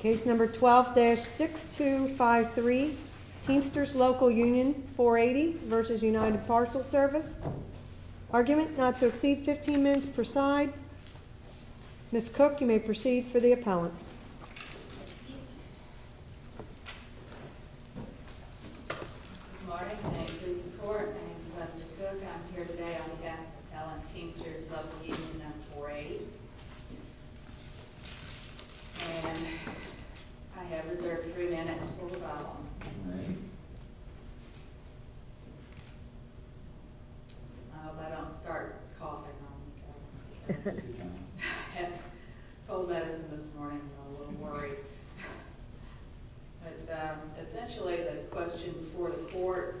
Case number 12-6253, Teamsters Local Union 480 v. United Parcel Service Argument not to exceed 15 minutes per side. Ms. Cook, you may proceed for the appellant. Good morning. My name is Lisa Court. My name is Leslie Cook. I'm here today on behalf of the appellant, Teamsters Local Union 480. And I have reserved three minutes for the appellant. I hope I don't start coughing on you guys. I had cold medicine this morning and I'm a little worried. But essentially the question for the court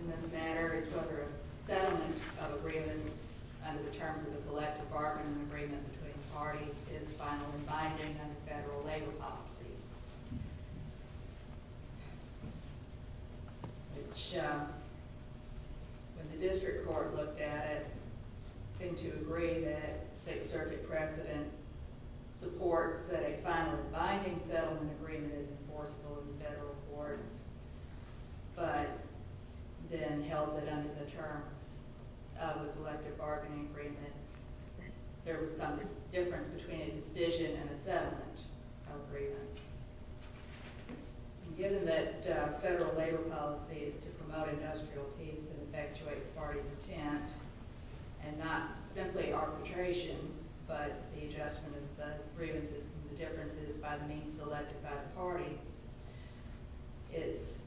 in this matter is whether a settlement of agreements under the terms of the Collette Department and agreement between parties is finally binding under federal labor policy. Which, when the district court looked at it, seemed to agree that State Circuit precedent supports that a final binding settlement agreement is enforceable in federal courts. But then held that under the terms of the Collette Department agreement, there was some difference between a decision and a settlement of agreements. Given that federal labor policy is to promote industrial peace and effectuate the party's intent, and not simply arbitration, but the adjustment of the grievances and the differences by the means elected by the parties, it's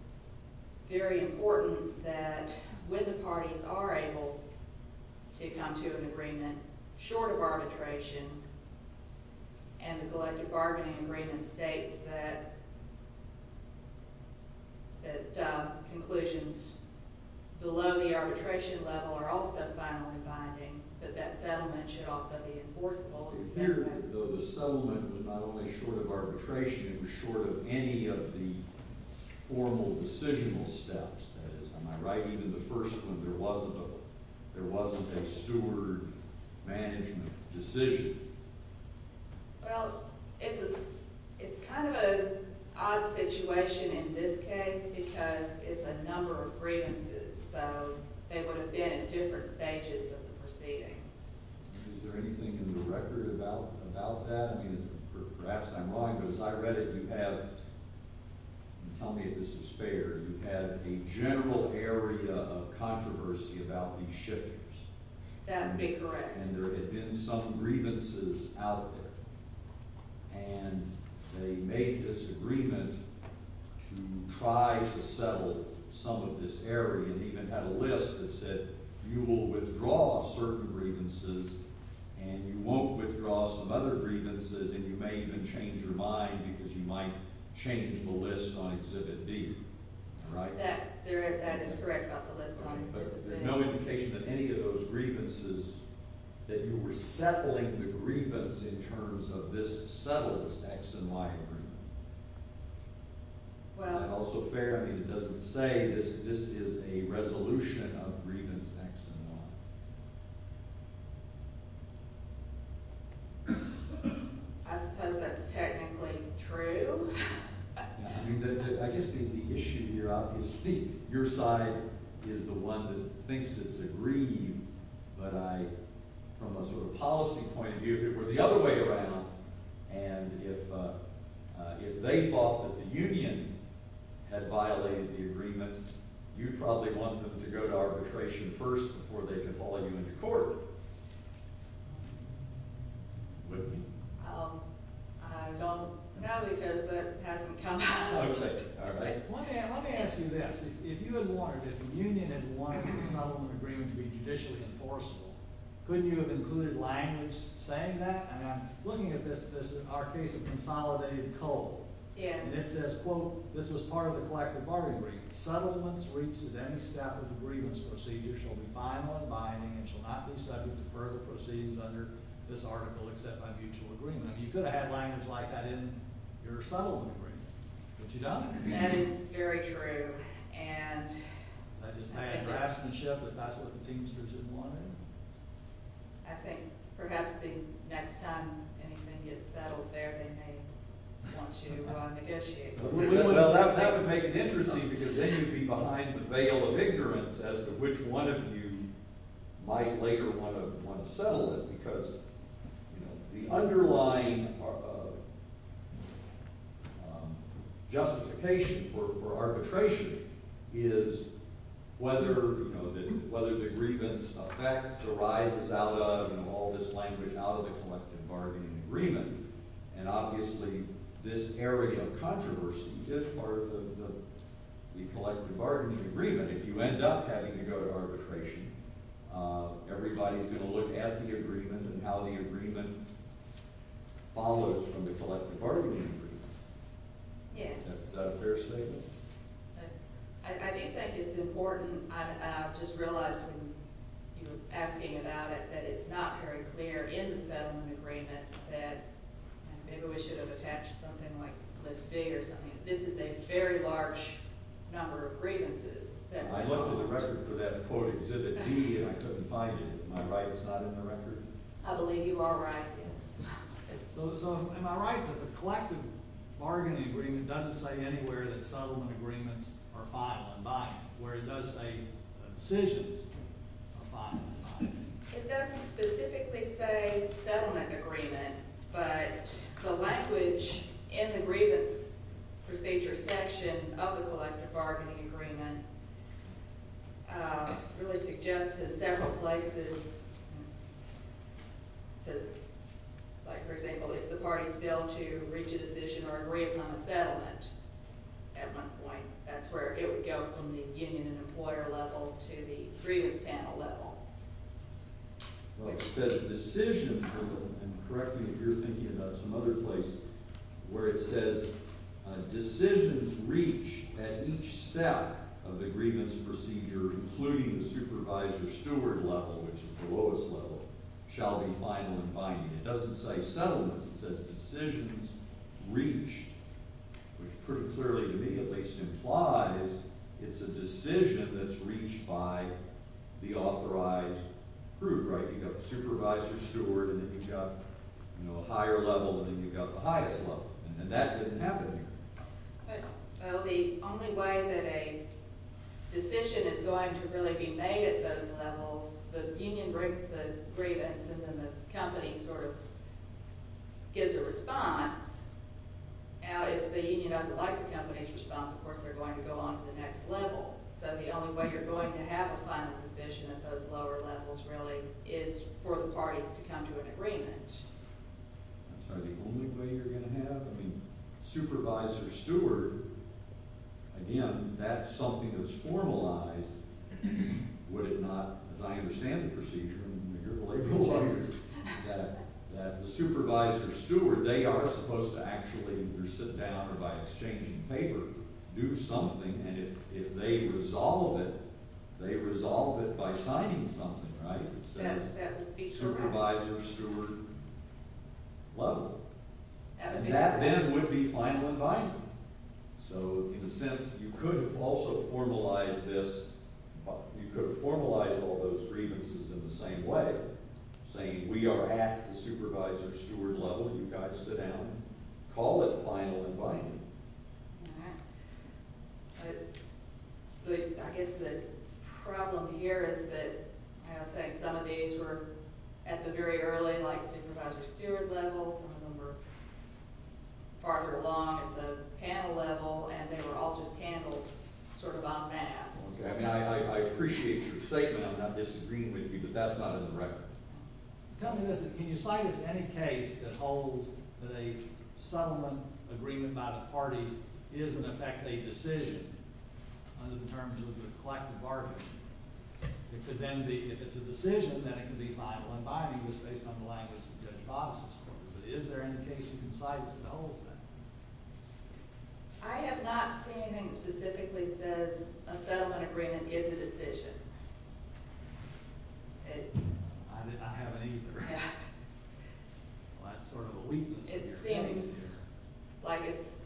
very important that when the parties are able to come to an agreement short of arbitration, and the Collette Department agreement states that conclusions below the arbitration level are also finally binding, that that settlement should also be enforceable. Although the settlement was not only short of arbitration, it was short of any of the formal decisional steps. That is, am I right, even in the first one there wasn't a steward management decision? Well, it's kind of an odd situation in this case because it's a number of grievances, so they would have been at different stages of the proceedings. Is there anything in the record about that? Perhaps I'm wrong, but as I read it, you have, tell me if this is fair, you have a general area of controversy about these shifters. That would be correct. And there had been some grievances out there, and they made this agreement to try to settle some of this area, and even had a list that said you will withdraw certain grievances, and you won't withdraw some other grievances, and you may even change your mind because you might change the list on Exhibit D. That is correct about the list on Exhibit D. But there's no indication that any of those grievances, that you were settling the grievance in terms of this settler's X and Y agreement. Well. Is that also fair? I mean, it doesn't say this is a resolution of grievance X and Y. I suppose that's technically true. I guess the issue here, obviously, your side is the one that thinks it's agreed, but I, from a sort of policy point of view, if it were the other way around, and if they thought that the union had violated the agreement, you'd probably want them to go to arbitration first before they could call you into court. Whitney? I don't know, because it hasn't come up. All right. Let me ask you this. If you had wanted, if the union had wanted the settlement agreement to be judicially enforceable, couldn't you have included language saying that? And I'm looking at this, our case of consolidated coal. Yes. And it says, quote, this was part of the collective bargaining agreement. Settlements reached at any step of the grievance procedure shall be final and binding and shall not be subject to further proceedings under this article except by mutual agreement. You could have had language like that in your settlement agreement. But you don't. That is very true. And. That is bad draftsmanship if that's what the teamsters had wanted. I think perhaps the next time anything gets settled there, they may want to negotiate. That would make it interesting, because then you'd be behind the veil of ignorance as to which one of you might later want to settle it. Because the underlying justification for arbitration is whether the grievance affects or rises out of all this language out of the collective bargaining agreement. And obviously this area of controversy is part of the collective bargaining agreement. If you end up having to go to arbitration, everybody's going to look at the agreement and how the agreement follows from the collective bargaining agreement. Yes. Is that a fair statement? I think that it's important. I just realized when you were asking about it that it's not very clear in the settlement agreement that maybe we should have attached something like this big or something. This is a very large number of grievances. I looked at the record for that quote Exhibit D and I couldn't find it. Am I right? It's not in the record. I believe you are right. Yes. Am I right that the collective bargaining agreement doesn't say anywhere that settlement agreements are final and binding, where it does say decisions are final and binding? It doesn't specifically say settlement agreement, but the language in the grievance procedure section of the collective bargaining agreement really suggests in several places. It says, for example, if the parties fail to reach a decision or agree upon a settlement at one point, that's where it would go from the union and employer level to the grievance panel level. It says decisions reach at each step of the grievance procedure, including the supervisor-steward level, which is the lowest level, shall be final and binding. It doesn't say settlements. It says decisions reach, which pretty clearly to me at least implies it's a decision that's reached by the authorized group, right? You've got the supervisor-steward and then you've got a higher level and then you've got the highest level. And that didn't happen here. Well, the only way that a decision is going to really be made at those levels, the union brings the grievance and then the company sort of gives a response. Now, if the union doesn't like the company's response, of course, they're going to go on to the next level. So the only way you're going to have a final decision at those lower levels really is for the parties to come to an agreement. Is that the only way you're going to have? I mean, supervisor-steward, again, that's something that's formalized. Would it not, as I understand the procedure and you're the labor lawyers, that the supervisor-steward, they are supposed to actually either sit down or by exchange in favor do something. And if they resolve it, they resolve it by signing something, right? Supervisor-steward level. And that then would be final and binding. So in a sense, you could have also formalized this. You could have formalized all those grievances in the same way, saying we are at the supervisor-steward level and you've got to sit down and call it final and binding. All right. But I guess the problem here is that, as I was saying, some of these were at the very early, like, supervisor-steward level. Some of them were farther along at the panel level, and they were all just handled sort of en masse. Okay. I mean, I appreciate your statement on not disagreeing with you, but that's not in the record. Tell me this. Can you cite us any case that holds that a settlement agreement by the parties is, in effect, a decision under the terms of the collective bargaining? It could then be, if it's a decision, then it could be final and binding, which is based on the language of Judge Bobas's court. But is there any case you can cite that holds that? I have not seen anything that specifically says a settlement agreement is a decision. Okay. I haven't either. Yeah. Well, that's sort of a weakness in your case. It seems like it's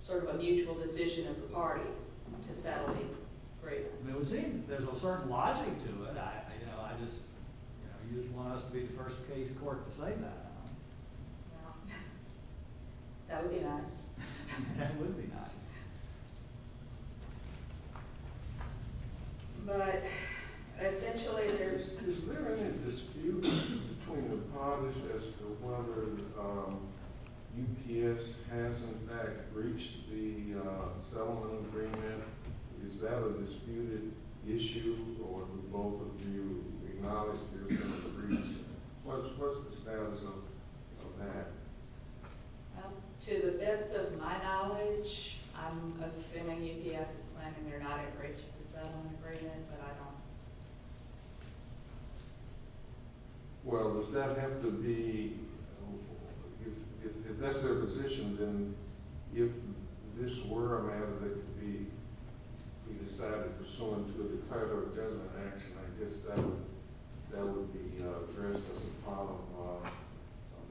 sort of a mutual decision of the parties to settle the agreements. It seems. There's a certain logic to it. You just want us to be the first case court to say that, huh? Well, that would be nice. That would be nice. But, essentially, there's… Is there any dispute between the parties as to whether UPS has, in fact, reached the settlement agreement? Is that a disputed issue, or do both of you acknowledge there's been a breach? What's the status of that? To the best of my knowledge, I'm assuming UPS is claiming they're not in breach of the settlement agreement, but I don't. Well, does that have to be… If this were a matter that could be decided pursuant to a declarative judgment action, I guess that would be addressed as a problem of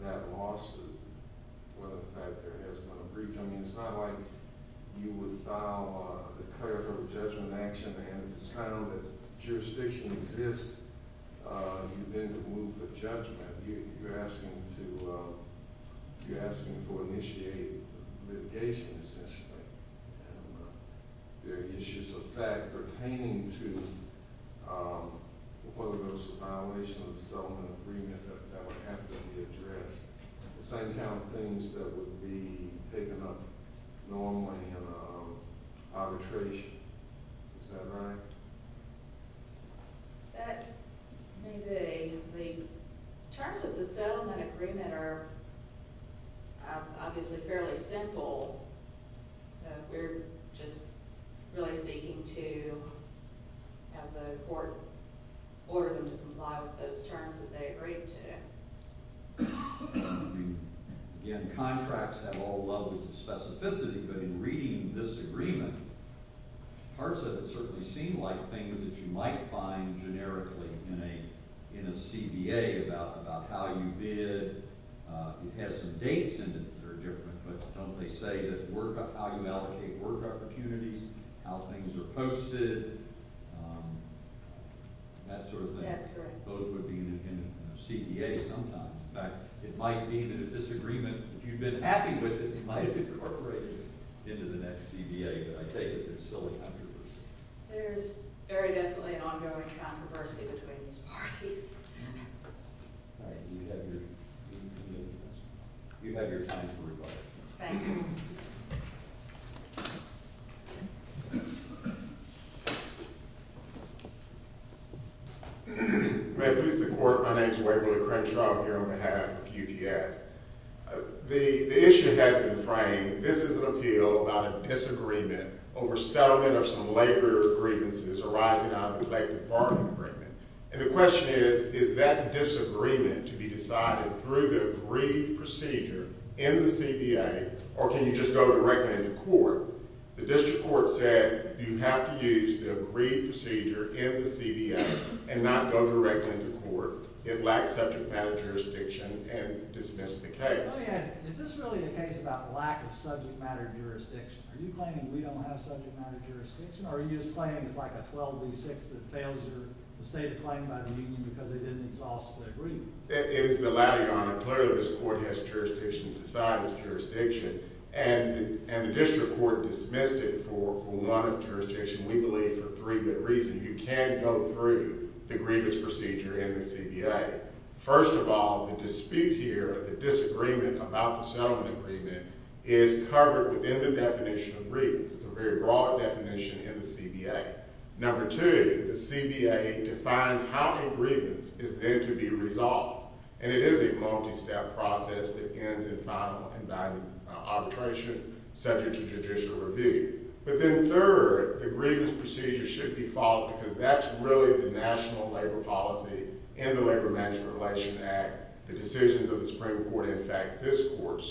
that loss of whether, in fact, there has been a breach. I mean, it's not like you would file a declarative judgment action and it's kind of a jurisdiction exists. You then remove the judgment. You're asking to initiate litigation, essentially. And there are issues, in fact, pertaining to whether there was a violation of the settlement agreement that would have to be addressed. The same kind of things that would be taken up normally in arbitration. Is that right? That may be. The terms of the settlement agreement are obviously fairly simple. We're just really seeking to have the court order them to comply with those terms that they agreed to. Again, contracts have all levels of specificity, but in reading this agreement, parts of it certainly seem like things that you might find generically in a CBA about how you bid. It has some dates in it that are different, but don't they say how you allocate work opportunities, how things are posted, that sort of thing? That's correct. Those would be in a CBA sometime. In fact, it might be in a disagreement. If you've been happy with it, it might have been incorporated into the next CBA, but I take it there's still a controversy. There is very definitely an ongoing controversy between these parties. All right. You have your time to reply. Thank you. My name is Waverly Crenshaw here on behalf of UPS. The issue has been framed. This is an appeal about a disagreement over settlement of some labor grievances arising out of the collective bargaining agreement. And the question is, is that disagreement to be decided through the agreed procedure in the CBA, or can you just go directly to court? The district court said you have to use the agreed procedure in the CBA and not go directly to court. It lacks subject matter jurisdiction and dismissed the case. Let me ask, is this really a case about lack of subject matter jurisdiction? Are you claiming we don't have subject matter jurisdiction, or are you just claiming it's like a 12 v. 6 that fails your stated claim by the union because they didn't exhaust the agreement? It is the latter, Your Honor. Clearly, this court has jurisdiction to decide its jurisdiction. And the district court dismissed it for one jurisdiction. We believe for three good reasons. You can't go through the grievance procedure in the CBA. First of all, the dispute here, the disagreement about the settlement agreement, is covered within the definition of grievance. It's a very broad definition in the CBA. Number two, the CBA defines how a grievance is then to be resolved. And it is a multi-step process that ends in final and binding arbitration subject to judicial review. But then third, the grievance procedure should be followed because that's really the national labor policy in the Labor Management Relations Act, the decisions of the Supreme Court, in fact, this court.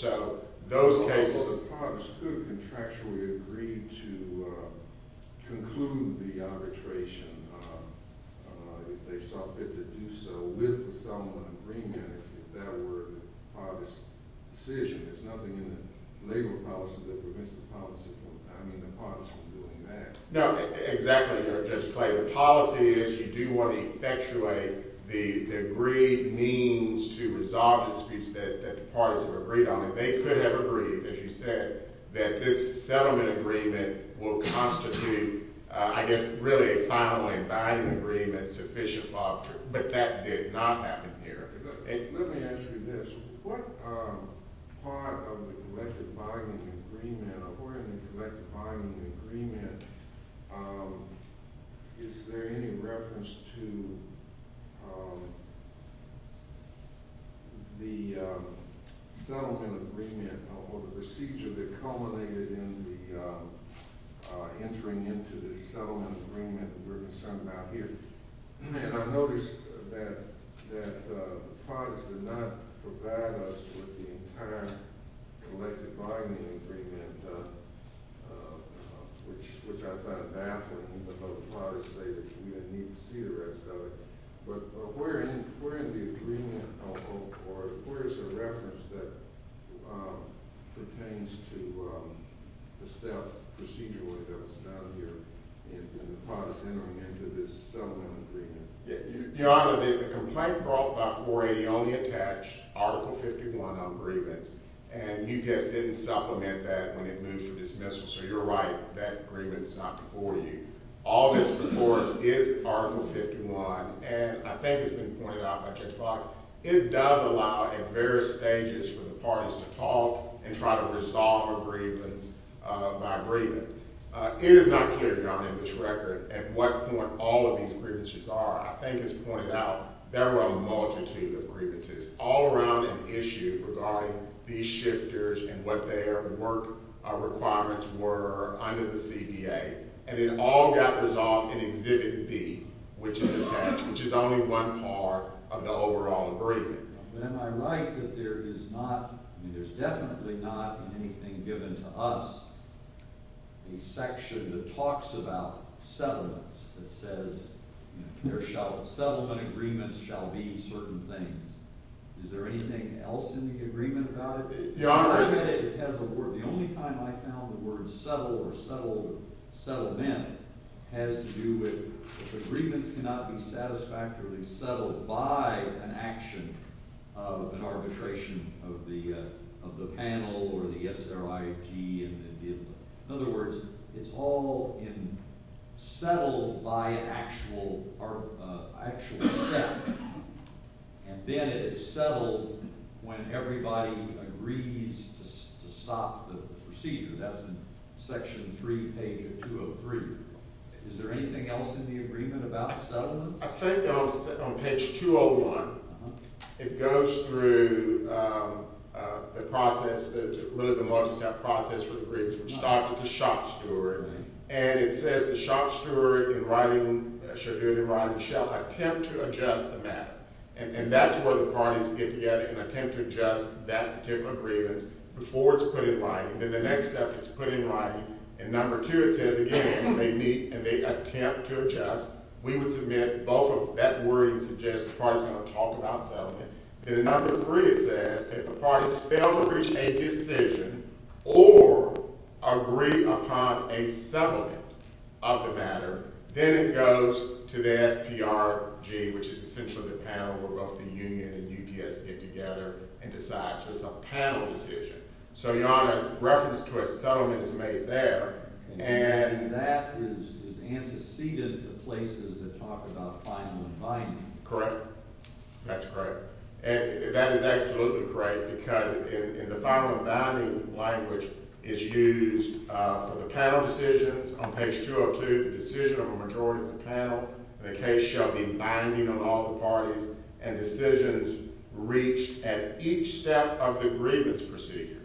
Well, the parties could contractually agree to conclude the arbitration if they saw fit to do so with the settlement agreement if that were the parties' decision. There's nothing in the labor policy that prevents the parties from doing that. No, exactly, Judge Clay. The policy is you do want to effectuate the agreed means to resolve disputes that the parties have agreed on. And they could have agreed, as you said, that this settlement agreement will constitute, I guess, really a final and binding agreement sufficient for arbitration. But that did not happen here. Let me ask you this. What part of the collective binding agreement or where in the collective binding agreement is there any reference to the settlement agreement or the procedure that culminated in the entering into this settlement agreement that we're concerned about here? And I noticed that the parties did not provide us with the entire collective binding agreement, which I found baffling. But the parties say that you need to see the rest of it. But where in the agreement or where is the reference that pertains to the step, the procedure that goes down here in the parties entering into this settlement agreement? Your Honor, the complaint brought by 480 only attached Article 51 on agreements. And you just didn't supplement that when it moved for dismissal. So you're right. That agreement's not before you. All that's before us is Article 51. And I think it's been pointed out by Judge Box, it does allow at various stages for the parties to talk and try to resolve agreements by agreement. It is not clear, Your Honor, in this record at what point all of these grievances are. I think it's pointed out there were a multitude of grievances all around an issue regarding these shifters and what their work requirements were under the CDA. And it all got resolved in Exhibit B, which is attached, which is only one part of the overall agreement. But am I right that there is not – I mean, there's definitely not in anything given to us a section that talks about settlements that says there shall – settlement agreements shall be certain things. Is there anything else in the agreement about it? Your Honor, it's – The only time I found the word settle or settlement has to do with the grievance cannot be satisfactorily settled by an action of an arbitration of the panel or the SRIG. In other words, it's all settled by an actual settlement. And then it is settled when everybody agrees to stop the procedure. That was in Section 3, page 203. Is there anything else in the agreement about settlements? I think on page 201, it goes through the process, the multistep process for the grievance, which starts with the shop steward. And it says the shop steward, in writing, shall attempt to adjust the matter. And that's where the parties get together and attempt to adjust that particular grievance before it's put in writing. Then the next step, it's put in writing. And number two, it says, again, they meet and they attempt to adjust. We would submit both of – that wording suggests the parties are going to talk about settlement. Then in number three, it says if the parties fail to reach a decision or agree upon a settlement of the matter, then it goes to the SPRG, which is essentially the panel where both the union and UPS get together and decide. So it's a panel decision. So, Your Honor, reference to a settlement is made there. And that is antecedent to places that talk about final and binding. Correct. That's correct. And that is absolutely correct because in the final and binding language, it's used for the panel decisions. On page 202, the decision of a majority of the panel in the case shall be binding on all the parties. And decisions reached at each step of the grievance procedure,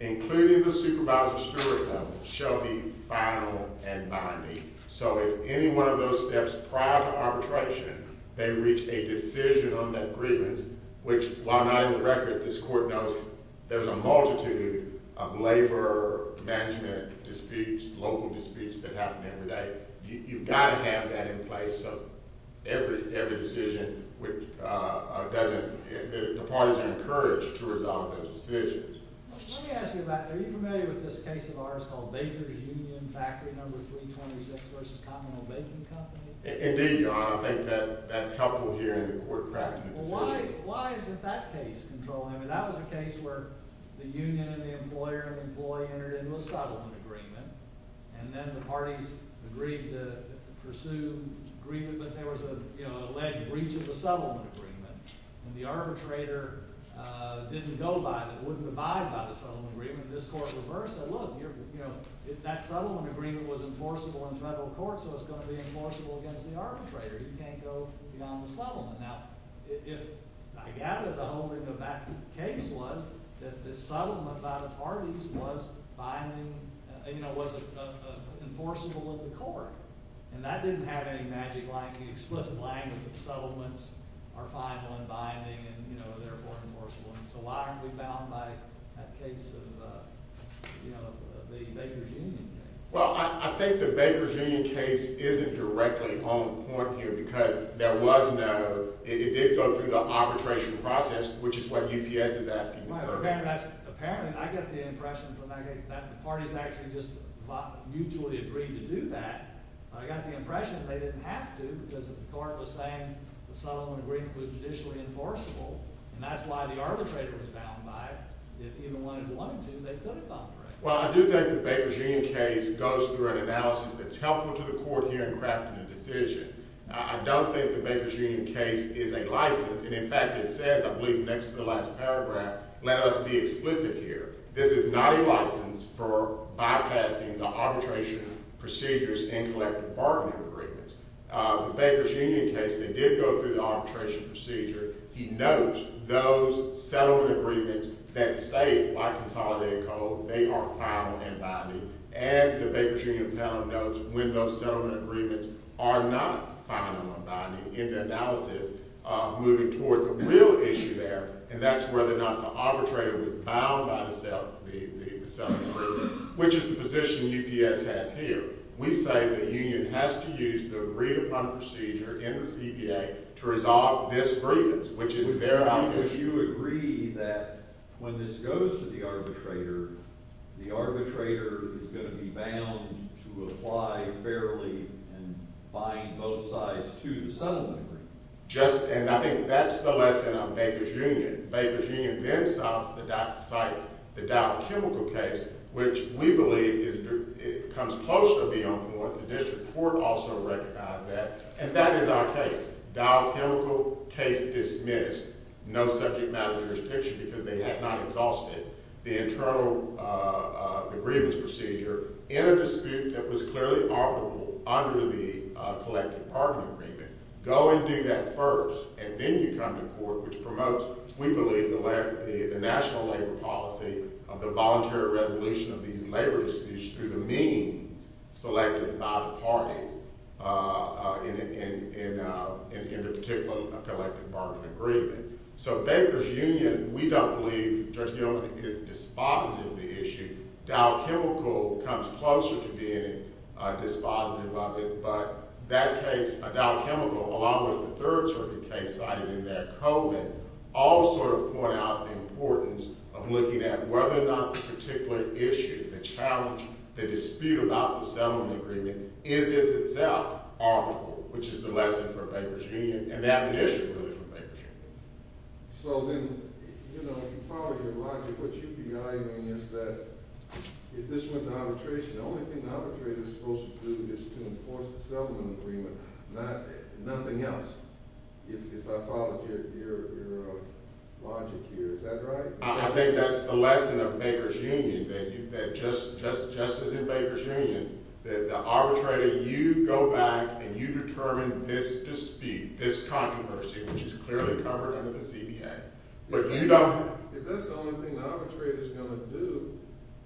including the supervisor steward level, shall be final and binding. So if any one of those steps prior to arbitration, they reach a decision on that grievance, which while not in the record, this court knows there's a multitude of labor management disputes, local disputes that happen every day. You've got to have that in place so every decision doesn't – the parties are encouraged to resolve those decisions. Let me ask you about – are you familiar with this case of ours called Baker's Union Factory No. 326 v. Commonwealth Baking Company? Indeed, Your Honor. I think that that's helpful here in the court crafting the decision. Well, why is it that case controlling? I mean, that was a case where the union and the employer and employee entered into a settlement agreement. And then the parties agreed to pursue grievance, but there was an alleged breach of the settlement agreement. And the arbitrator didn't go by – wouldn't abide by the settlement agreement. This court reversed it. Look, that settlement agreement was enforceable in federal court, so it's going to be enforceable against the arbitrator. Now, if – I gather the whole thing of that case was that the settlement by the parties was binding – you know, was enforceable in the court. And that didn't have any magic like the explicit language of settlements are final and binding and, you know, therefore enforceable. So why aren't we bound by that case of, you know, the Baker's Union case? Well, I think the Baker's Union case isn't directly on point here because there was no – it did go through the arbitration process, which is what UPS is asking the court to do. Well, apparently that's – apparently I get the impression from that case that the parties actually just mutually agreed to do that. But I got the impression they didn't have to because the court was saying the settlement agreement was judicially enforceable. And that's why the arbitrator was bound by it. If even one had wanted to, they could have gone for it. Well, I do think the Baker's Union case goes through an analysis that's helpful to the court here in crafting the decision. I don't think the Baker's Union case is a license. And, in fact, it says – I believe next to the last paragraph – let us be explicit here. This is not a license for bypassing the arbitration procedures and collective bargaining agreements. The Baker's Union case, they did go through the arbitration procedure. He notes those settlement agreements that say, by consolidated code, they are final and binding. And the Baker's Union panel notes when those settlement agreements are not final and binding in their analysis moving toward the real issue there, and that's whether or not the arbitrator was bound by the settlement agreement, which is the position UPS has here. We say the union has to use the read-upon procedure in the CPA to resolve this grievance, which is their obligation. Would you agree that when this goes to the arbitrator, the arbitrator is going to be bound to apply fairly and bind both sides to the settlement agreement? Just – and I think that's the lesson of Baker's Union. Baker's Union then cites the dial-chemical case, which we believe comes closer to being on point. The district court also recognized that. And that is our case. Dial-chemical case dismissed. No subject matter jurisdiction because they had not exhausted the internal grievance procedure in a dispute that was clearly operable under the collective bargaining agreement. Go and do that first, and then you come to court, which promotes, we believe, the national labor policy of the voluntary resolution of these labor disputes through the means selected by the parties in the particular collective bargaining agreement. So Baker's Union, we don't believe, Judge Gilman, is dispositive of the issue. Dial-chemical comes closer to being dispositive of it. But that case, a dial-chemical, along with the third circuit case cited in there, Cohen, all sort of point out the importance of looking at whether or not the particular issue, the challenge, the dispute about the settlement agreement, is in itself operable, which is the lesson for Baker's Union. And that an issue, really, for Baker's Union. So then, you know, if you follow your logic, what you're arguing is that if this went to arbitration, the only thing the arbitrator is supposed to do is to enforce the settlement agreement, nothing else, if I followed your logic here. Is that right? I think that's the lesson of Baker's Union, that just as in Baker's Union, that the arbitrator, you go back and you determine this dispute, this controversy, which is clearly covered under the CBA. But you don't… If that's the only thing the arbitrator's going to do,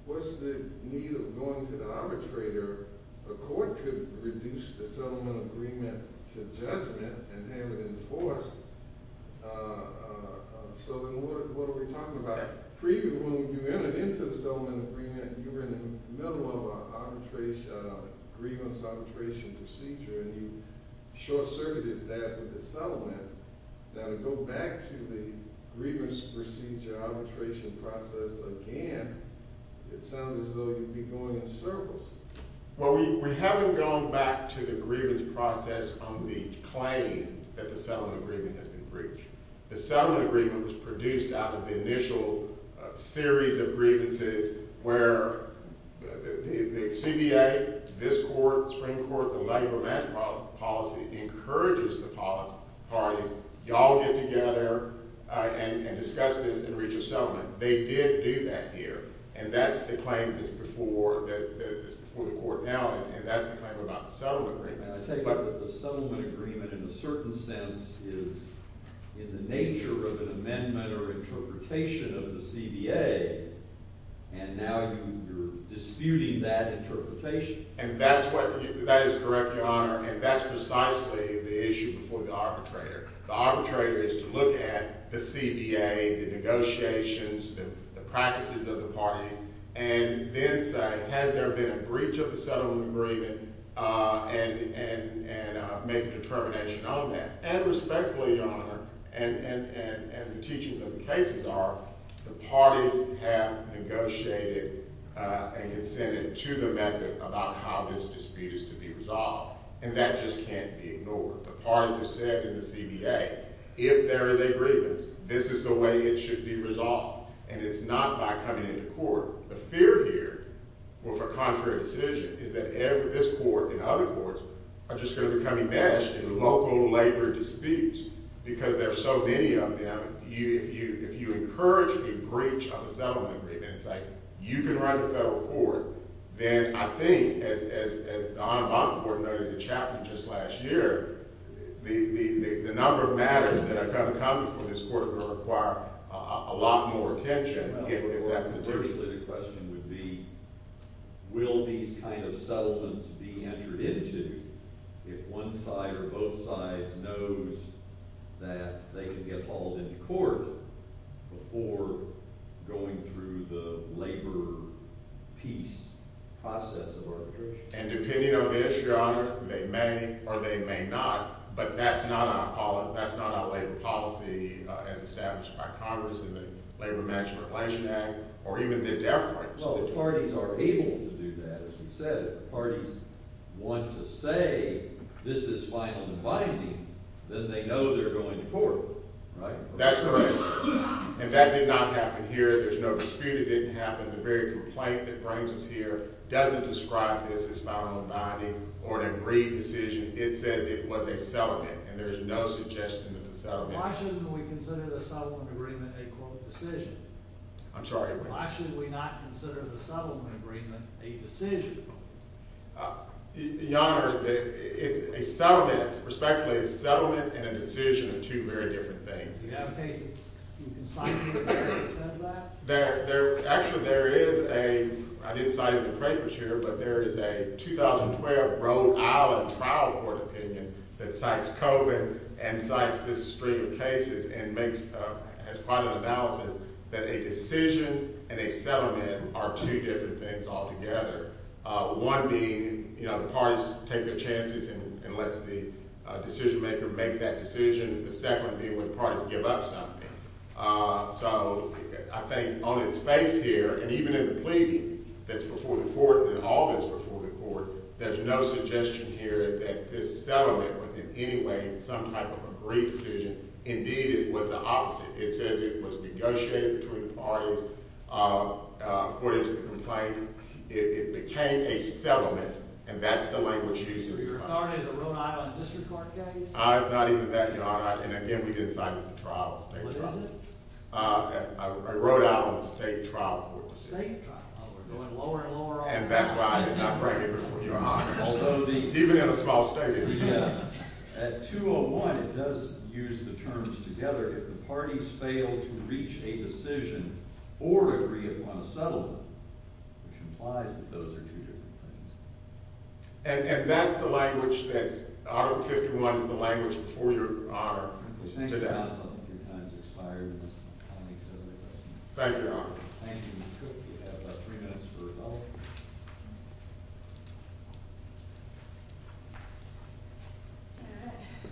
what's the need of going to the arbitrator? The court could reduce the settlement agreement to judgment and have it enforced. So then what are we talking about? When you entered into the settlement agreement, you were in the middle of a grievance arbitration procedure, and you short-circuited that with the settlement. Now, to go back to the grievance procedure arbitration process again, it sounds as though you'd be going in circles. Well, we haven't gone back to the grievance process on the claim that the settlement agreement has been breached. The settlement agreement was produced out of the initial series of grievances where the CBA, this court, Supreme Court, the labor match policy encourages the parties, y'all get together and discuss this and reach a settlement. They did do that here, and that's the claim that's before the court now, and that's the claim about the settlement agreement. I take it that the settlement agreement in a certain sense is in the nature of an amendment or interpretation of the CBA, and now you're disputing that interpretation. And that is correct, Your Honor, and that's precisely the issue before the arbitrator. The arbitrator is to look at the CBA, the negotiations, the practices of the parties, and then say, has there been a breach of the settlement agreement, and make a determination on that. And respectfully, Your Honor, and the teachings of the cases are, the parties have negotiated and consented to the method about how this dispute is to be resolved, and that just can't be ignored. The parties have said in the CBA, if there is a grievance, this is the way it should be resolved, and it's not by coming into court. The fear here, with a contrary decision, is that this court and other courts are just going to become enmeshed in local labor disputes, because there are so many of them. If you encourage a breach of a settlement agreement, and say, you can run the federal court, then I think, as the Honorable Audit Board noted in the chapter just last year, the number of matters that are kind of coming from this court are going to require a lot more attention, if that's the case. So, initially, the question would be, will these kind of settlements be entered into if one side or both sides knows that they can get hauled into court before going through the labor peace process of arbitration? And depending on the issue, Your Honor, they may or they may not, but that's not our labor policy as established by Congress in the Labor Management Relation Act, or even the deference. Well, if parties are able to do that, as you said, if parties want to say this is final and binding, then they know they're going to court, right? That's correct. And that did not happen here. There's no dispute it didn't happen. The very complaint that brings us here doesn't describe this as final and binding or an agreed decision. It says it was a settlement, and there's no suggestion of a settlement. Why shouldn't we consider the settlement agreement a court decision? I'm sorry, what? Why should we not consider the settlement agreement a decision? Your Honor, it's a settlement, respectfully, a settlement and a decision are two very different things. Do you have a case that you can cite here that says that? Actually, there is a, I didn't cite it in the papers here, but there is a 2012 Rhode Island trial court opinion that cites COVID and cites this stream of cases and makes quite an analysis that a decision and a settlement are two different things altogether. One being, you know, the parties take their chances and let the decision maker make that decision. The second being when parties give up something. So, I think on its face here, and even in the plea that's before the court, in all that's before the court, there's no suggestion here that this settlement was in any way some type of agreed decision. Indeed, it was the opposite. It says it was negotiated between the parties for this complaint. It became a settlement, and that's the language used here. Your Honor, is it a Rhode Island district court case? It's not even that, Your Honor, and again, we didn't cite it as a trial, a state trial. What is it? A Rhode Island state trial court decision. A state trial court, going lower and lower all the time. And that's why I did not bring it before you, Your Honor. Even in a small state. At 201, it does use the terms together. If the parties fail to reach a decision or agree upon a settlement, which implies that those are two different things. And that's the language that's, Article 51 is the language before Your Honor today. Thank you, Your Honor. Your time has expired. Thank you, Your Honor. Thank you. You have three minutes for rebuttal.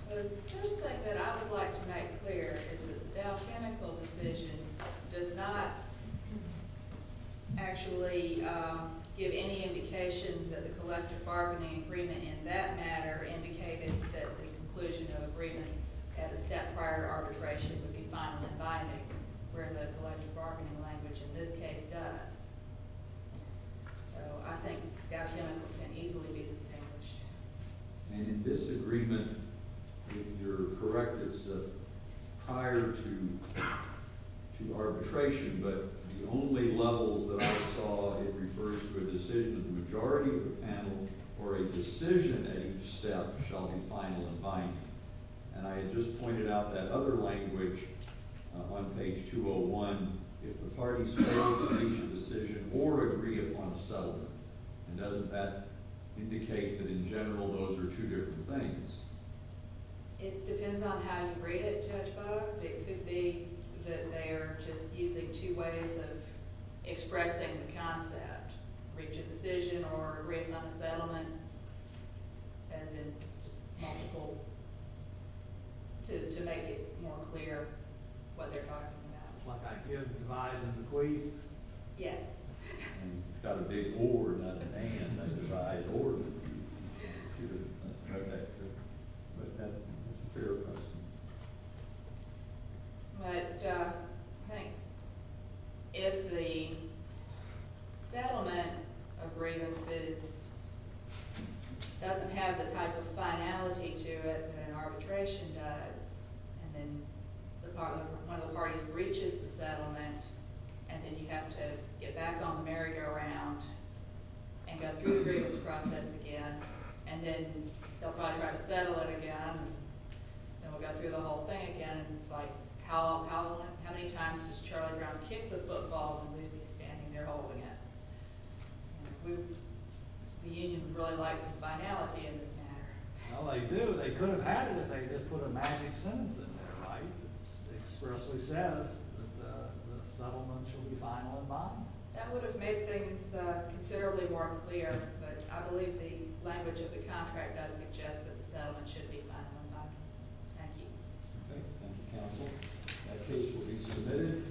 The first thing that I would like to make clear is that the Dow Chemical decision does not actually give any indication that the collective bargaining agreement in that matter indicated that the conclusion of agreements at a step prior to arbitration would be final and binding, where the collective bargaining language in this case does. So I think Dow Chemical can easily be distinguished. And in disagreement with your correctness of prior to arbitration, but the only levels that I saw, it refers to a decision of the majority of the panel or a decision at each step shall be final and binding. And I had just pointed out that other language on page 201, if the parties fail to reach a decision or agree upon a settlement. And doesn't that indicate that in general those are two different things? It depends on how you read it, Judge Boggs. It could be that they're just using two ways of expressing the concept, reach a decision or agree upon a settlement, as in multiple, to make it more clear what they're talking about. Like I give devise and bequeath? Yes. It's got a big or, not an and, like devise or bequeath. It's good. OK. But that's a fair question. But I think if the settlement of grievances doesn't have the type of finality to it that an arbitration does, and then one of the parties breaches the settlement, and then you have to get back on the merry-go-round and go through the grievance process again. And then they'll probably try to settle it again. And we'll go through the whole thing again. And it's like, how many times does Charlie Brown kick the football when Lucy's standing there holding it? The union really likes finality in this matter. Well, they do. They could have had it if they just put a magic sentence in there, right? It expressly says that the settlement should be final and binding. That would have made things considerably more clear. But I believe the language of the contract does suggest that the settlement should be final and binding. Thank you. OK. Thank you, counsel. That case will be submitted.